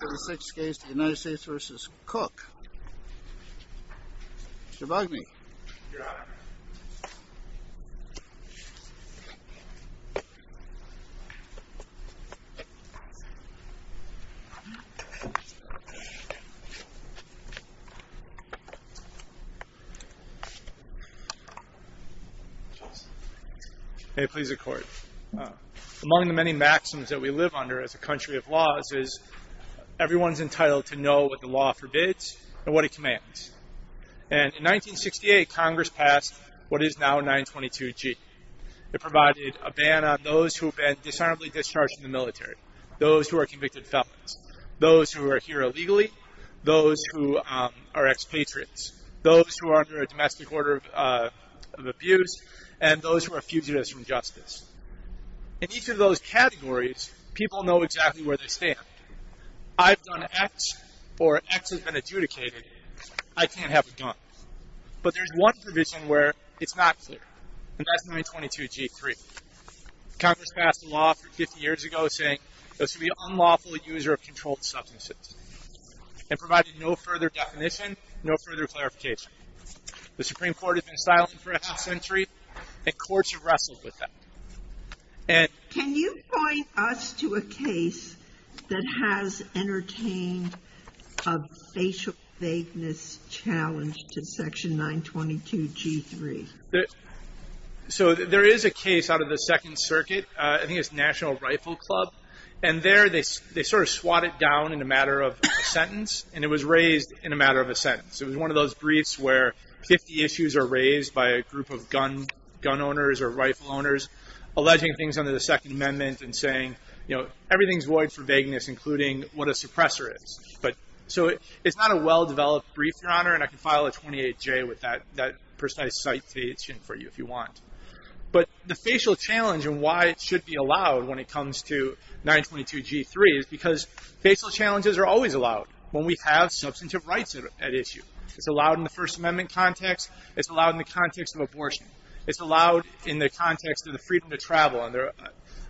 The sixth case, the United States v. Cook. Mr. Bugney. Your Honor. May it please the Court. Among the many maxims that we live under as a country of laws is everyone's entitled to know what the law forbids and what it commands. And in 1968, Congress passed what is now 922G. It provided a ban on those who have been dishonorably discharged from the military, those who are convicted felons, those who are here illegally, those who are expatriates, those who are under a domestic order of abuse, and those who are fugitives from justice. In each of those categories, people know exactly where they stand. I've done X, or X has been adjudicated, I can't have a gun. But there's one provision where it's not clear, and that's 922G. Congress passed a law 50 years ago saying it should be unlawful to use or control substances. It provided no further definition, no further clarification. The Supreme Court has been silent for half a century, and courts have wrestled with that. Can you point us to a case that has entertained a facial vagueness challenge to Section 922G3? So there is a case out of the Second Circuit, I think it's National Rifle Club, and there they sort of swat it down in a matter of a sentence, and it was raised in a matter of a sentence. It was one of those briefs where 50 issues are raised by a group of gun owners or rifle owners, alleging things under the Second Amendment and saying, you know, everything's void for vagueness, including what a suppressor is. So it's not a well-developed brief, Your Honor, and I can file a 28-J with that precise citation for you if you want. But the facial challenge and why it should be allowed when it comes to 922G3 is because facial challenges are always allowed when we have substantive rights at issue. It's allowed in the First Amendment context, it's allowed in the context of abortion, it's allowed in the context of the freedom to travel and the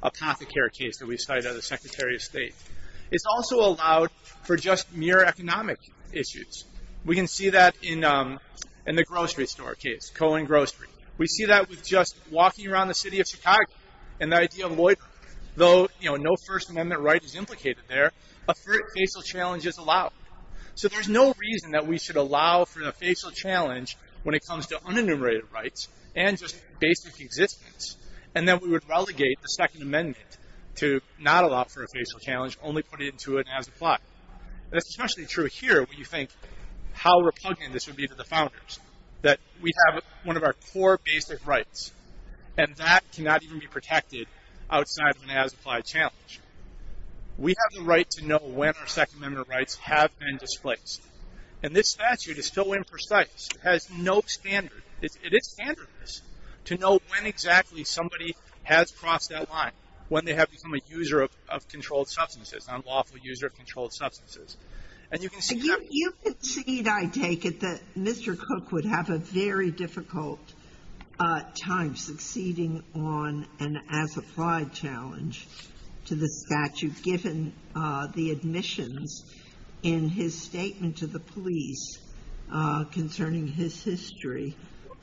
apothecary case that we cited under the Secretary of State. It's also allowed for just mere economic issues. We can see that in the grocery store case, Cohen Grocery. We see that with just walking around the city of Chicago, though no First Amendment right is implicated there, a facial challenge is allowed. So there's no reason that we should allow for a facial challenge when it comes to unenumerated rights and just basic existence, and then we would relegate the Second Amendment to not allow for a facial challenge, only put it into it as applied. That's especially true here when you think how repugnant this would be to the founders, that we have one of our core basic rights, and that cannot even be protected outside of an as-applied challenge. We have the right to know when our Second Amendment rights have been displaced, and this statute is so imprecise, it has no standard. It is standard to know when exactly somebody has crossed that line, when they have become a user of controlled substances, an unlawful user of controlled substances. You concede, I take it, that Mr. Cook would have a very difficult time succeeding on an as-applied challenge to the statute, given the admissions in his statement to the police concerning his history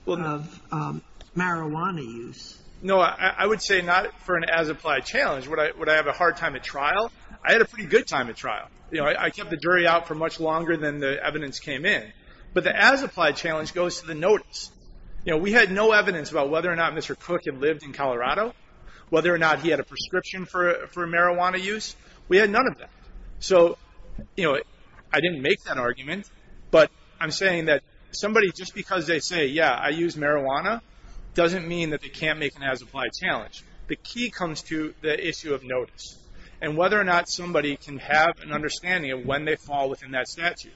of marijuana use. No, I would say not for an as-applied challenge. Would I have a hard time at trial? I had a pretty good time at trial. I kept the jury out for much longer than the evidence came in. But the as-applied challenge goes to the notice. We had no evidence about whether or not Mr. Cook had lived in Colorado, whether or not he had a prescription for marijuana use. We had none of that. So I didn't make that argument, but I'm saying that somebody, just because they say, yeah, I use marijuana, doesn't mean that they can't make an as-applied challenge. The key comes to the issue of notice, and whether or not somebody can have an understanding of when they fall within that statute.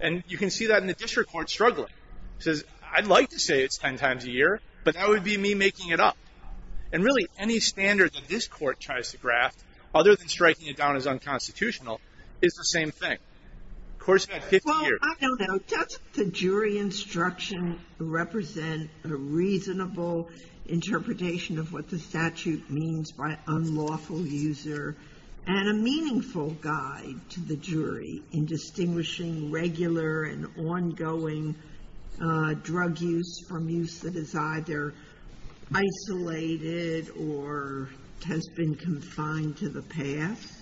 And you can see that in the district court struggling. It says, I'd like to say it's ten times a year, but that would be me making it up. And really, any standard that this court tries to graft, other than striking it down as unconstitutional, is the same thing. The court's had 50 years. Well, I don't know. Does the jury instruction represent a reasonable interpretation of what the statute means by unlawful user, and a meaningful guide to the jury in distinguishing regular and ongoing drug use from use that is either isolated or has been confined to the past?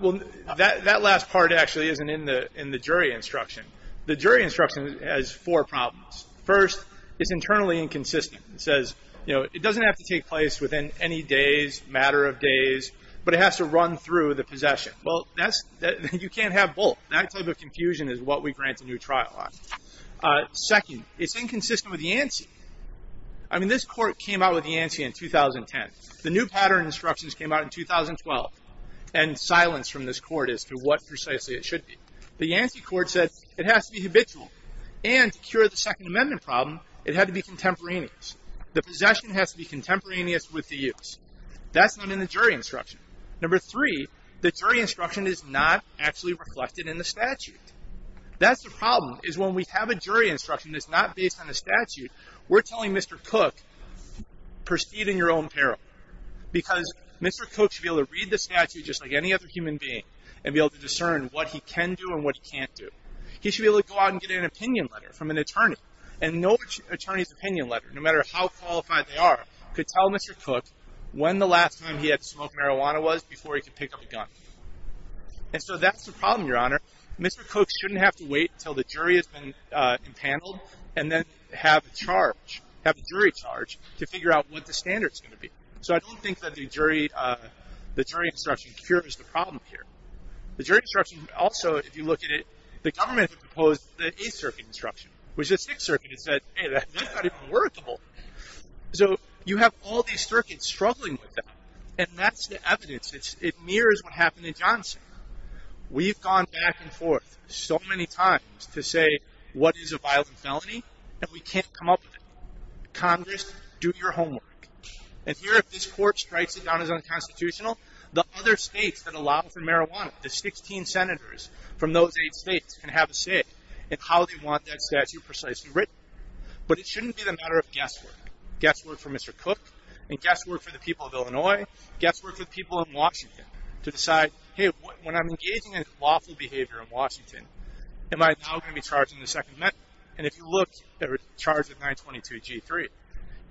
Well, that last part actually isn't in the jury instruction. The jury instruction has four problems. First, it's internally inconsistent. It says, you know, it doesn't have to take place within any days, matter of days, but it has to run through the possession. Well, you can't have both. That type of confusion is what we grant a new trial on. Second, it's inconsistent with the ANSI. I mean, this court came out with the ANSI in 2010. The new pattern instructions came out in 2012, and silence from this court as to what precisely it should be. The ANSI court said it has to be habitual, and to cure the Second Amendment problem, it had to be contemporaneous. The possession has to be contemporaneous with the use. That's not in the jury instruction. Number three, the jury instruction is not actually reflected in the statute. That's the problem, is when we have a jury instruction that's not based on a statute, we're telling Mr. Cooke, proceed in your own peril, because Mr. Cooke should be able to read the statute just like any other human being and be able to discern what he can do and what he can't do. He should be able to go out and get an opinion letter from an attorney, and no attorney's opinion letter, no matter how qualified they are, could tell Mr. Cooke when the last time he had to smoke marijuana was before he could pick up a gun. And so that's the problem, Your Honor. Mr. Cooke shouldn't have to wait until the jury has been impaneled and then have a jury charge to figure out what the standard's going to be. So I don't think that the jury instruction cures the problem here. The jury instruction also, if you look at it, the government proposed the Eighth Circuit instruction, which the Sixth Circuit said, hey, that's not even workable. So you have all these circuits struggling with that, and that's the evidence. It mirrors what happened in Johnson. We've gone back and forth so many times to say what is a violent felony, and we can't come up with it. Congress, do your homework. And here, if this court strikes it down as unconstitutional, the other states that allow for marijuana, the 16 senators from those eight states can have a say in how they want that statute precisely written. But it shouldn't be the matter of guesswork. Guesswork for Mr. Cooke and guesswork for the people of Illinois, guesswork for the people of Washington to decide, hey, when I'm engaging in lawful behavior in Washington, am I now going to be charged in the Second Amendment? And if you look, they were charged with 922 G3.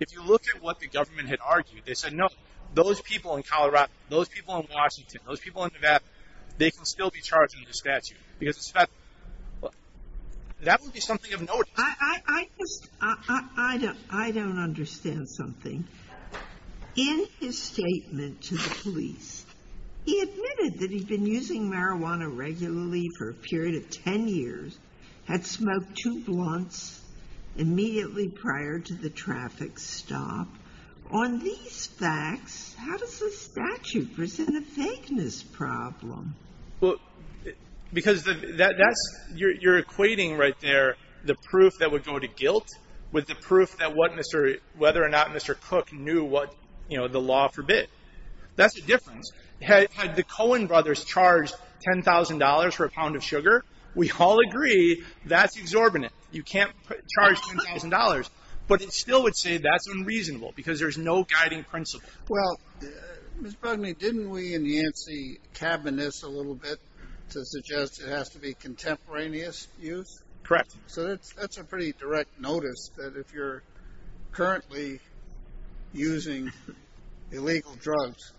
If you look at what the government had argued, they said, no, those people in Colorado, those people in Washington, those people in Nevada, they can still be charged under the statute because it's about them. That would be something of note. I just, I don't understand something. In his statement to the police, he admitted that he'd been using marijuana regularly for a period of 10 years, had smoked two blunts immediately prior to the traffic stop. On these facts, how does the statute present a vagueness problem? Well, because that's, you're equating right there the proof that would go to guilt with the proof that whether or not Mr. Cooke knew what the law forbid. That's the difference. Had the Coen brothers charged $10,000 for a pound of sugar, we all agree, that's exorbitant. You can't charge $10,000, but it still would say that's unreasonable because there's no guiding principle. Well, didn't we enhance the cabinet a little bit to suggest it has to be contemporaneous use? Correct. So that's a pretty direct notice that if you're currently using illegal drugs,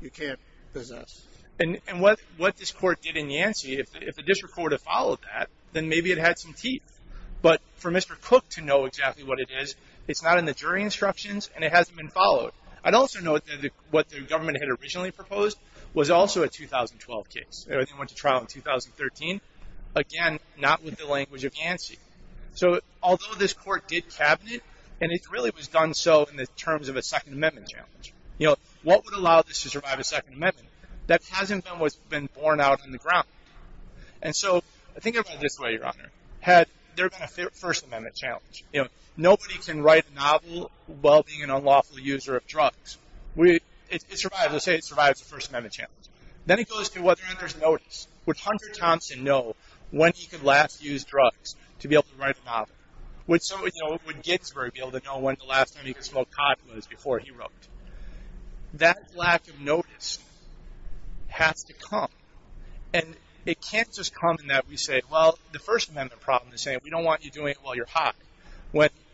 you can't possess. And what this court did in Yancey, if the district court had followed that, then maybe it had some teeth. But for Mr. Cooke to know exactly what it is, it's not in the jury instructions and it hasn't been followed. I'd also note that what the government had originally proposed was also a 2012 case. It went to trial in 2013. Again, not with the language of Yancey. So although this court did cabinet, and it really was done so in the terms of a Second Amendment challenge, what would allow this to survive a Second Amendment? That hasn't been what's been borne out on the ground. And so think about it this way, Your Honor. Had there been a First Amendment challenge, nobody can write a novel while being an unlawful user of drugs. It survives. Let's say it survives a First Amendment challenge. Then it goes to whether or not there's notice. Would Hunter Thompson know when he could last use drugs to be able to write a novel? Would Ginsburg be able to know when the last time he could smoke pot was before he wrote? That lack of notice has to come. And it can't just come in that we say, well, the First Amendment problem is saying we don't want you doing it while you're high.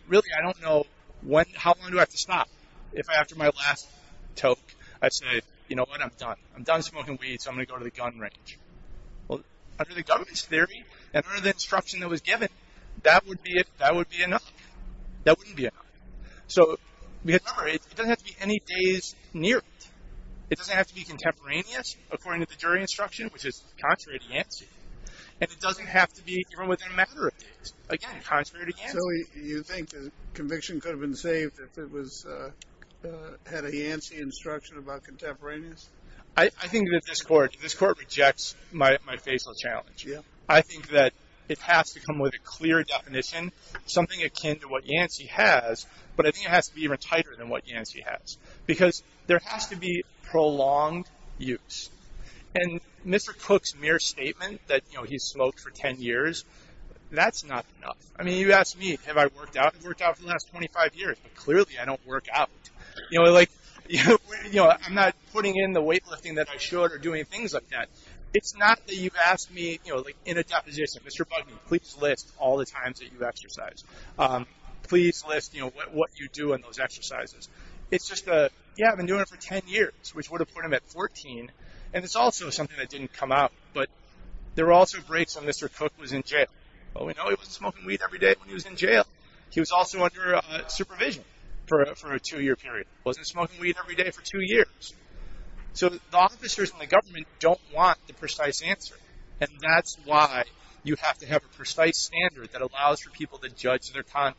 Really, I don't know how long do I have to stop. If after my last toke I say, you know what, I'm done. I'm done smoking weed, so I'm going to go to the gun range. Well, under the government's theory, under the instruction that was given, that would be enough. That wouldn't be enough. So remember, it doesn't have to be any days near it. It doesn't have to be contemporaneous according to the jury instruction, which is contrary to Yancey. And it doesn't have to be within a matter of days. Again, contrary to Yancey. So you think conviction could have been saved if it had a Yancey instruction about contemporaneous? I think that this Court rejects my facial challenge. I think that it has to come with a clear definition, something akin to what Yancey has, but I think it has to be even tighter than what Yancey has. Because there has to be prolonged use. And Mr. Cook's mere statement that he smoked for ten years, that's not enough. I mean, you ask me, have I worked out? I've worked out for the last 25 years, but clearly I don't work out. You know, like, you know, I'm not putting in the weightlifting that I should or doing things like that. It's not that you've asked me, you know, like in a deposition, Mr. Bugney, please list all the times that you exercise. Please list, you know, what you do in those exercises. It's just a, yeah, I've been doing it for ten years, which would have put him at 14. And it's also something that didn't come out. But there were also breaks when Mr. Cook was in jail. Well, we know he wasn't smoking weed every day when he was in jail. He was also under supervision for a two-year period. He wasn't smoking weed every day for two years. So the officers and the government don't want the precise answer. And that's why you have to have a precise standard that allows for people to judge their conduct.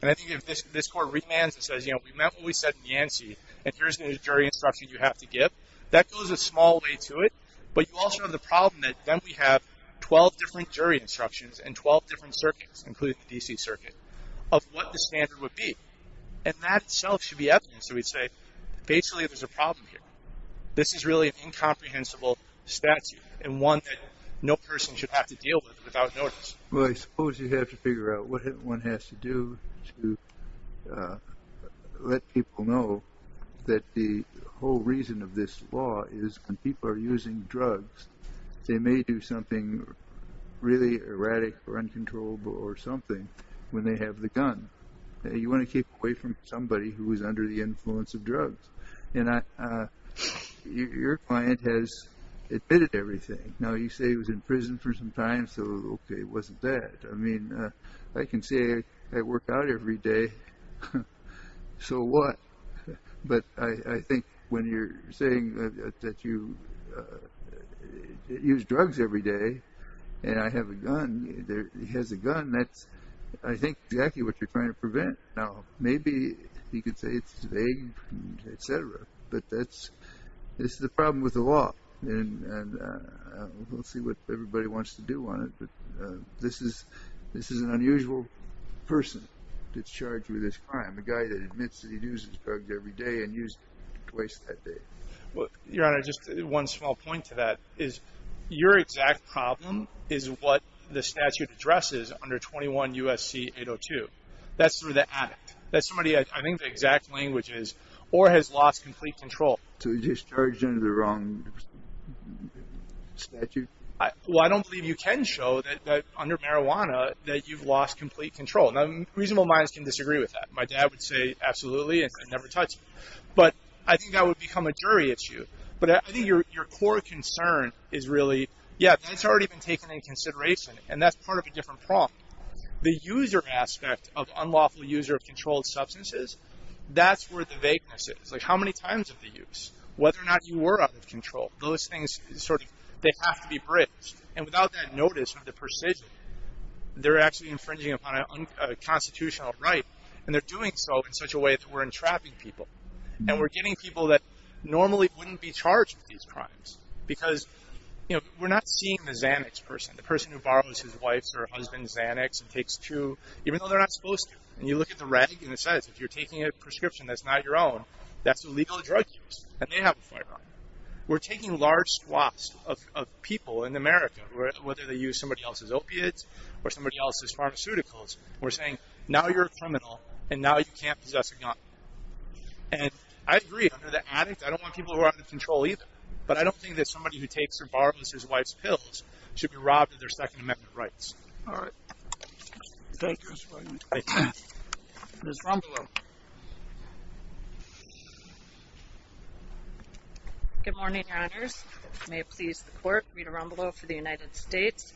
And I think if this Court remands and says, you know, we meant what we said in Yancey, and here's the jury instruction you have to give, that goes a small way to it. But you also have the problem that then we have 12 different jury instructions and 12 different circuits, including the D.C. Circuit, of what the standard would be. And that itself should be evidence that we'd say basically there's a problem here. This is really an incomprehensible statute, and one that no person should have to deal with without notice. Well, I suppose you have to figure out what one has to do to let people know that the whole reason of this law is when people are using drugs, they may do something really erratic or uncontrollable or something when they have the gun. You want to keep away from somebody who is under the influence of drugs. And your client has admitted everything. Now, you say he was in prison for some time, so, okay, it wasn't that. I mean, I can say I work out every day. So what? But I think when you're saying that you use drugs every day and I have a gun, he has a gun, that's, I think, exactly what you're trying to prevent. Now, maybe you could say it's vague, et cetera. But that's the problem with the law. And we'll see what everybody wants to do on it. But this is an unusual person that's charged with this crime, a guy that admits that he uses drugs every day and used twice that day. Your Honor, just one small point to that is your exact problem is what the statute addresses under 21 U.S.C. 802. That's through the addict. That's somebody, I think, the exact language is or has lost complete control. So he's just charged under the wrong statute? Well, I don't believe you can show that under marijuana that you've lost complete control. Now, reasonable minds can disagree with that. My dad would say absolutely and never touch me. But I think that would become a jury issue. But I think your core concern is really, yeah, it's already been taken into consideration, and that's part of a different problem. The user aspect of unlawful user of controlled substances, that's where the vagueness is. Like how many times have they used? Whether or not you were out of control. Those things sort of, they have to be bridged. And without that notice or the precision, they're actually infringing upon a constitutional right, and they're doing so in such a way that we're entrapping people. And we're getting people that normally wouldn't be charged with these crimes because, you know, we're not seeing the Xanax person, the person who borrows his wife's or husband's Xanax and takes two, even though they're not supposed to. And you look at the reg, and it says if you're taking a prescription that's not your own, that's illegal drug use, and they have a firearm. We're taking large swaths of people in America, whether they use somebody else's opiates or somebody else's pharmaceuticals. We're saying now you're a criminal, and now you can't possess a gun. And I agree, under the addict, I don't want people who are out of control either. But I don't think that somebody who takes or borrows his wife's pills should be robbed of their Second Amendment rights. All right. Thank you, Mr. Williams. Thank you. Ms. Rombolo. Good morning, Your Honors. May it please the Court, Rita Rombolo for the United States.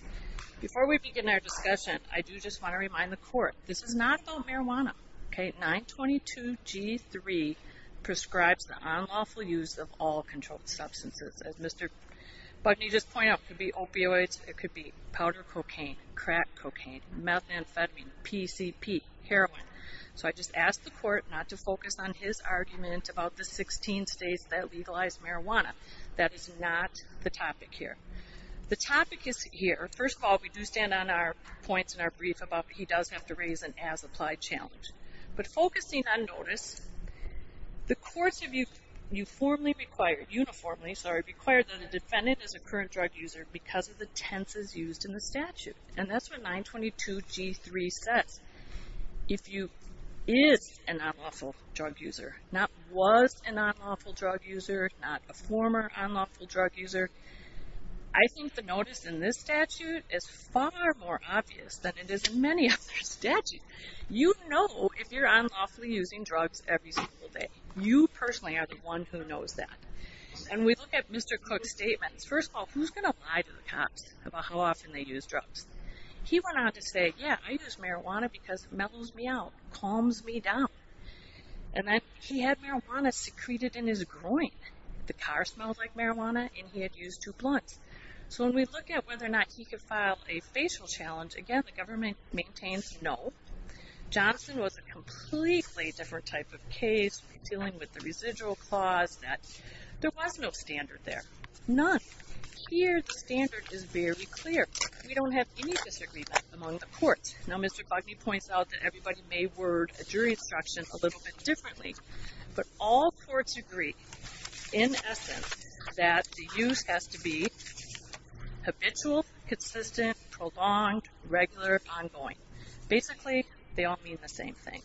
Before we begin our discussion, I do just want to remind the Court, this is not about marijuana, okay? 922G3 prescribes the unlawful use of all controlled substances. As Mr. Bugney just pointed out, it could be opioids, it could be powder cocaine, crack cocaine, methamphetamine, PCP, heroin. So I just ask the Court not to focus on his argument about the 16 states that legalize marijuana. That is not the topic here. The topic is here. First of all, we do stand on our points in our brief about he does have to raise an as-applied challenge. But focusing on notice, the courts have uniformly required that a defendant is a current drug user because of the tenses used in the statute. And that's what 922G3 says. If you is an unlawful drug user, not was an unlawful drug user, not a former unlawful drug user, I think the notice in this statute is far more obvious than it is in many other statutes. You know if you're unlawfully using drugs every single day. You personally are the one who knows that. And we look at Mr. Cook's statements. First of all, who's going to lie to the cops about how often they use drugs? He went on to say, yeah, I use marijuana because it mellows me out, calms me down. And then he had marijuana secreted in his groin. The car smelled like marijuana and he had used two blunts. So when we look at whether or not he could file a facial challenge, again, the government maintains no. Johnson was a completely different type of case dealing with the residual clause that there was no standard there. None. Here the standard is very clear. We don't have any disagreement among the courts. Now Mr. Gluckney points out that everybody may word a jury instruction a little bit differently. But all courts agree, in essence, that the use has to be habitual, consistent, prolonged, regular, ongoing. Basically, they all mean the same thing.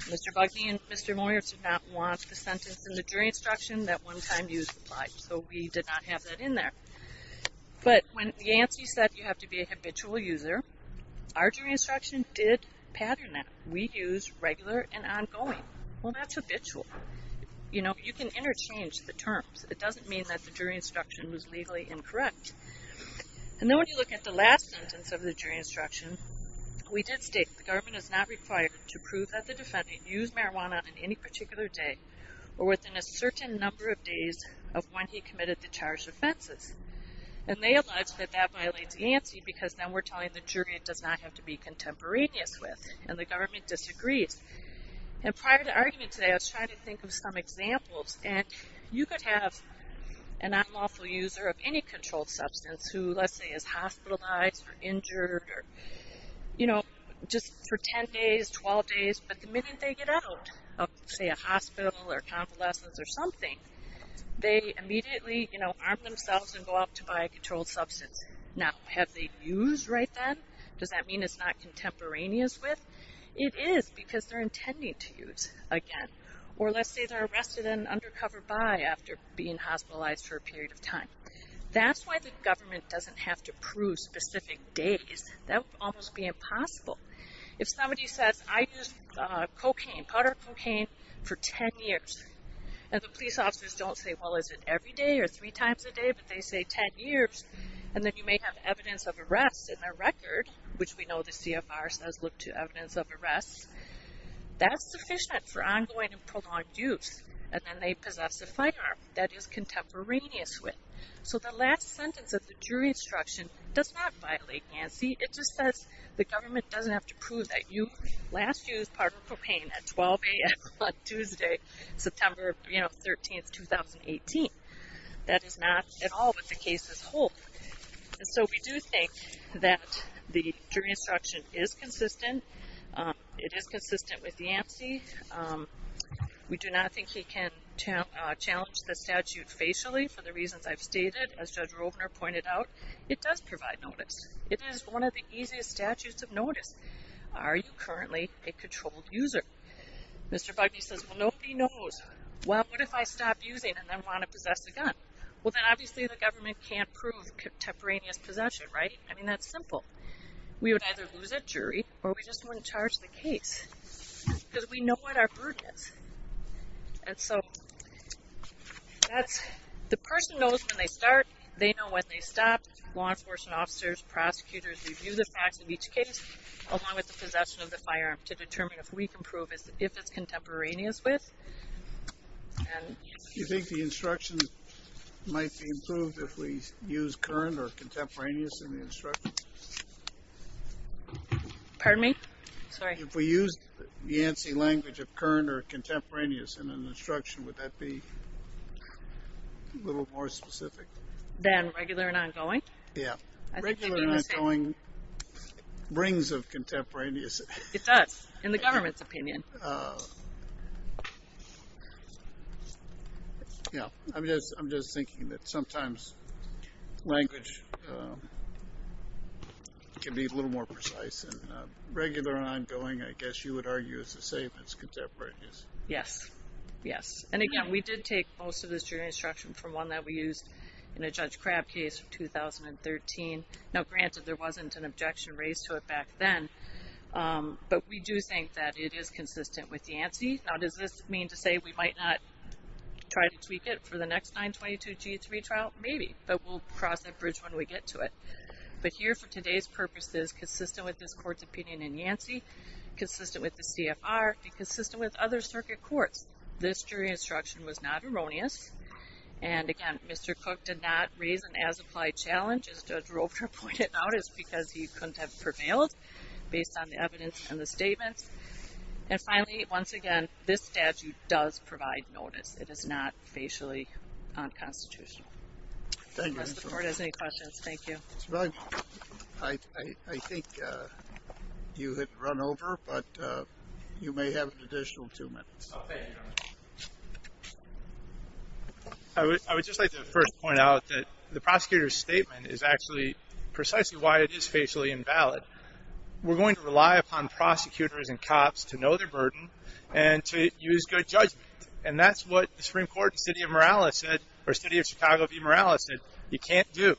Mr. Gluckney and Mr. Moyer did not want the sentence in the jury instruction that one time use applied. So we did not have that in there. But when Yancey said you have to be a habitual user, our jury instruction did pattern that. We use regular and ongoing. Well, that's habitual. You know, you can interchange the terms. It doesn't mean that the jury instruction was legally incorrect. And then when you look at the last sentence of the jury instruction, we did state the government is not required to prove that the defendant used marijuana on any particular day or within a certain number of days of when he committed the charged offenses. And they allege that that violates Yancey because then we're telling the jury it does not have to be contemporaneous with. And the government disagrees. And prior to the argument today, I was trying to think of some examples. And you could have an unlawful user of any controlled substance who, let's say, is hospitalized or injured or, you know, just for 10 days, 12 days. But the minute they get out of, say, a hospital or convalescence or something, they immediately, you know, arm themselves and go out to buy a controlled substance. Now, have they used right then? Does that mean it's not contemporaneous with? It is because they're intending to use again. Or let's say they're arrested and undercover buy after being hospitalized for a period of time. That's why the government doesn't have to prove specific days. That would almost be impossible. If somebody says, I used cocaine, powder cocaine, for 10 years, and the police officers don't say, well, is it every day or three times a day? But they say 10 years, and then you may have evidence of arrest in their record, which we know the CFR says look to evidence of arrest. That's sufficient for ongoing and prolonged use. And then they possess a firearm that is contemporaneous with. So the last sentence of the jury instruction does not violate Yancey. It just says the government doesn't have to prove that you last used powder cocaine at 12 a.m. on Tuesday, September, you know, 13th, 2018. That is not at all what the cases hold. And so we do think that the jury instruction is consistent. It is consistent with Yancey. We do not think he can challenge the statute facially for the reasons I've stated. As Judge Rovner pointed out, it does provide notice. It is one of the easiest statutes of notice. Are you currently a controlled user? Mr. Bugney says, well, nobody knows. Well, what if I stop using and then want to possess a gun? Well, then obviously the government can't prove contemporaneous possession, right? I mean, that's simple. We would either lose a jury or we just wouldn't charge the case because we know what our burden is. And so the person knows when they start. They know when they stop. Law enforcement officers, prosecutors review the facts of each case along with the possession of the firearm to determine if we can prove if it's contemporaneous with. Do you think the instructions might be improved if we use current or contemporaneous in the instructions? Pardon me? Sorry. If we use the Yancy language of current or contemporaneous in an instruction, would that be a little more specific? Than regular and ongoing? Yeah. Regular and ongoing rings of contemporaneous. It does, in the government's opinion. Yeah. I'm just thinking that sometimes language can be a little more precise. And regular and ongoing, I guess you would argue, is the same as contemporaneous. Yes. Yes. And, again, we did take most of this jury instruction from one that we used in a Judge Crabb case in 2013. Now, granted, there wasn't an objection raised to it back then. But we do think that it is consistent with Yancy. Now, does this mean to say we might not try to tweak it for the next 922G3 trial? Maybe. But we'll cross that bridge when we get to it. But here, for today's purposes, consistent with this court's opinion in Yancy, consistent with the CFR, consistent with other circuit courts, this jury instruction was not erroneous. And, again, Mr. Cook did not raise an as-applied challenge, as Judge Roper pointed out. It's because he couldn't have prevailed based on the evidence and the statements. And, finally, once again, this statute does provide notice. It is not facially unconstitutional. Thank you. If the rest of the board has any questions, thank you. Mr. Boggs, I think you had run over, but you may have an additional two minutes. I would just like to first point out that the prosecutor's statement is actually precisely why it is facially invalid. We're going to rely upon prosecutors and cops to know their burden and to use good judgment. And that's what the Supreme Court in the City of Chicago v. Morales said you can't do.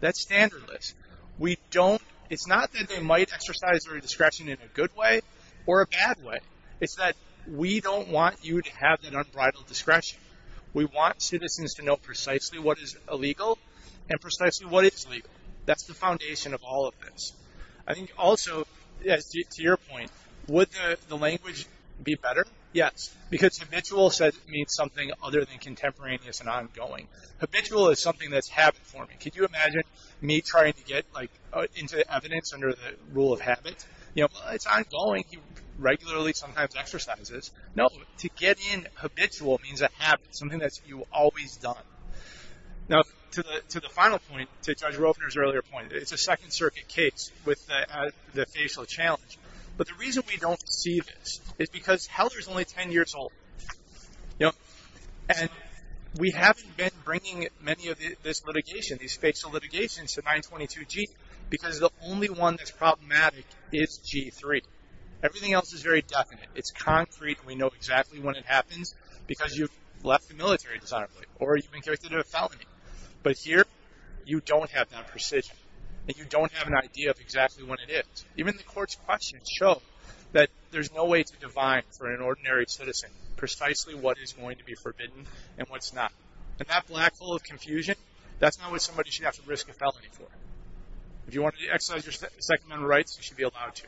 That's standardless. It's not that they might exercise their discretion in a good way or a bad way. It's that we don't want you to have that unbridled discretion. We want citizens to know precisely what is illegal and precisely what is legal. That's the foundation of all of this. I think also, to your point, would the language be better? Yes, because habitual means something other than contemporaneous and ongoing. Habitual is something that's habit-forming. Could you imagine me trying to get into evidence under the rule of habit? It's ongoing. I think you regularly sometimes exercise this. No. To get in habitual means a habit, something that you've always done. Now, to the final point, to Judge Rofner's earlier point, it's a Second Circuit case with the facial challenge. But the reason we don't see this is because Helder is only 10 years old. And we haven't been bringing many of this litigation, these facial litigations, to 922G because the only one that's problematic is G3. Everything else is very definite. It's concrete and we know exactly when it happens because you've left the military dishonorably or you've been convicted of a felony. But here, you don't have that precision and you don't have an idea of exactly when it is. Even the Court's questions show that there's no way to divine for an ordinary citizen precisely what is going to be forbidden and what's not. And that black hole of confusion, that's not what somebody should have to risk a felony for. If you want to exercise your Second Amendment rights, you should be allowed to.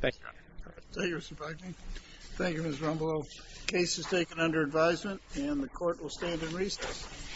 Thank you, Your Honor. Thank you, Mr. Bragdon. Thank you, Ms. Rombolo. Case is taken under advisement and the Court will stand in recess.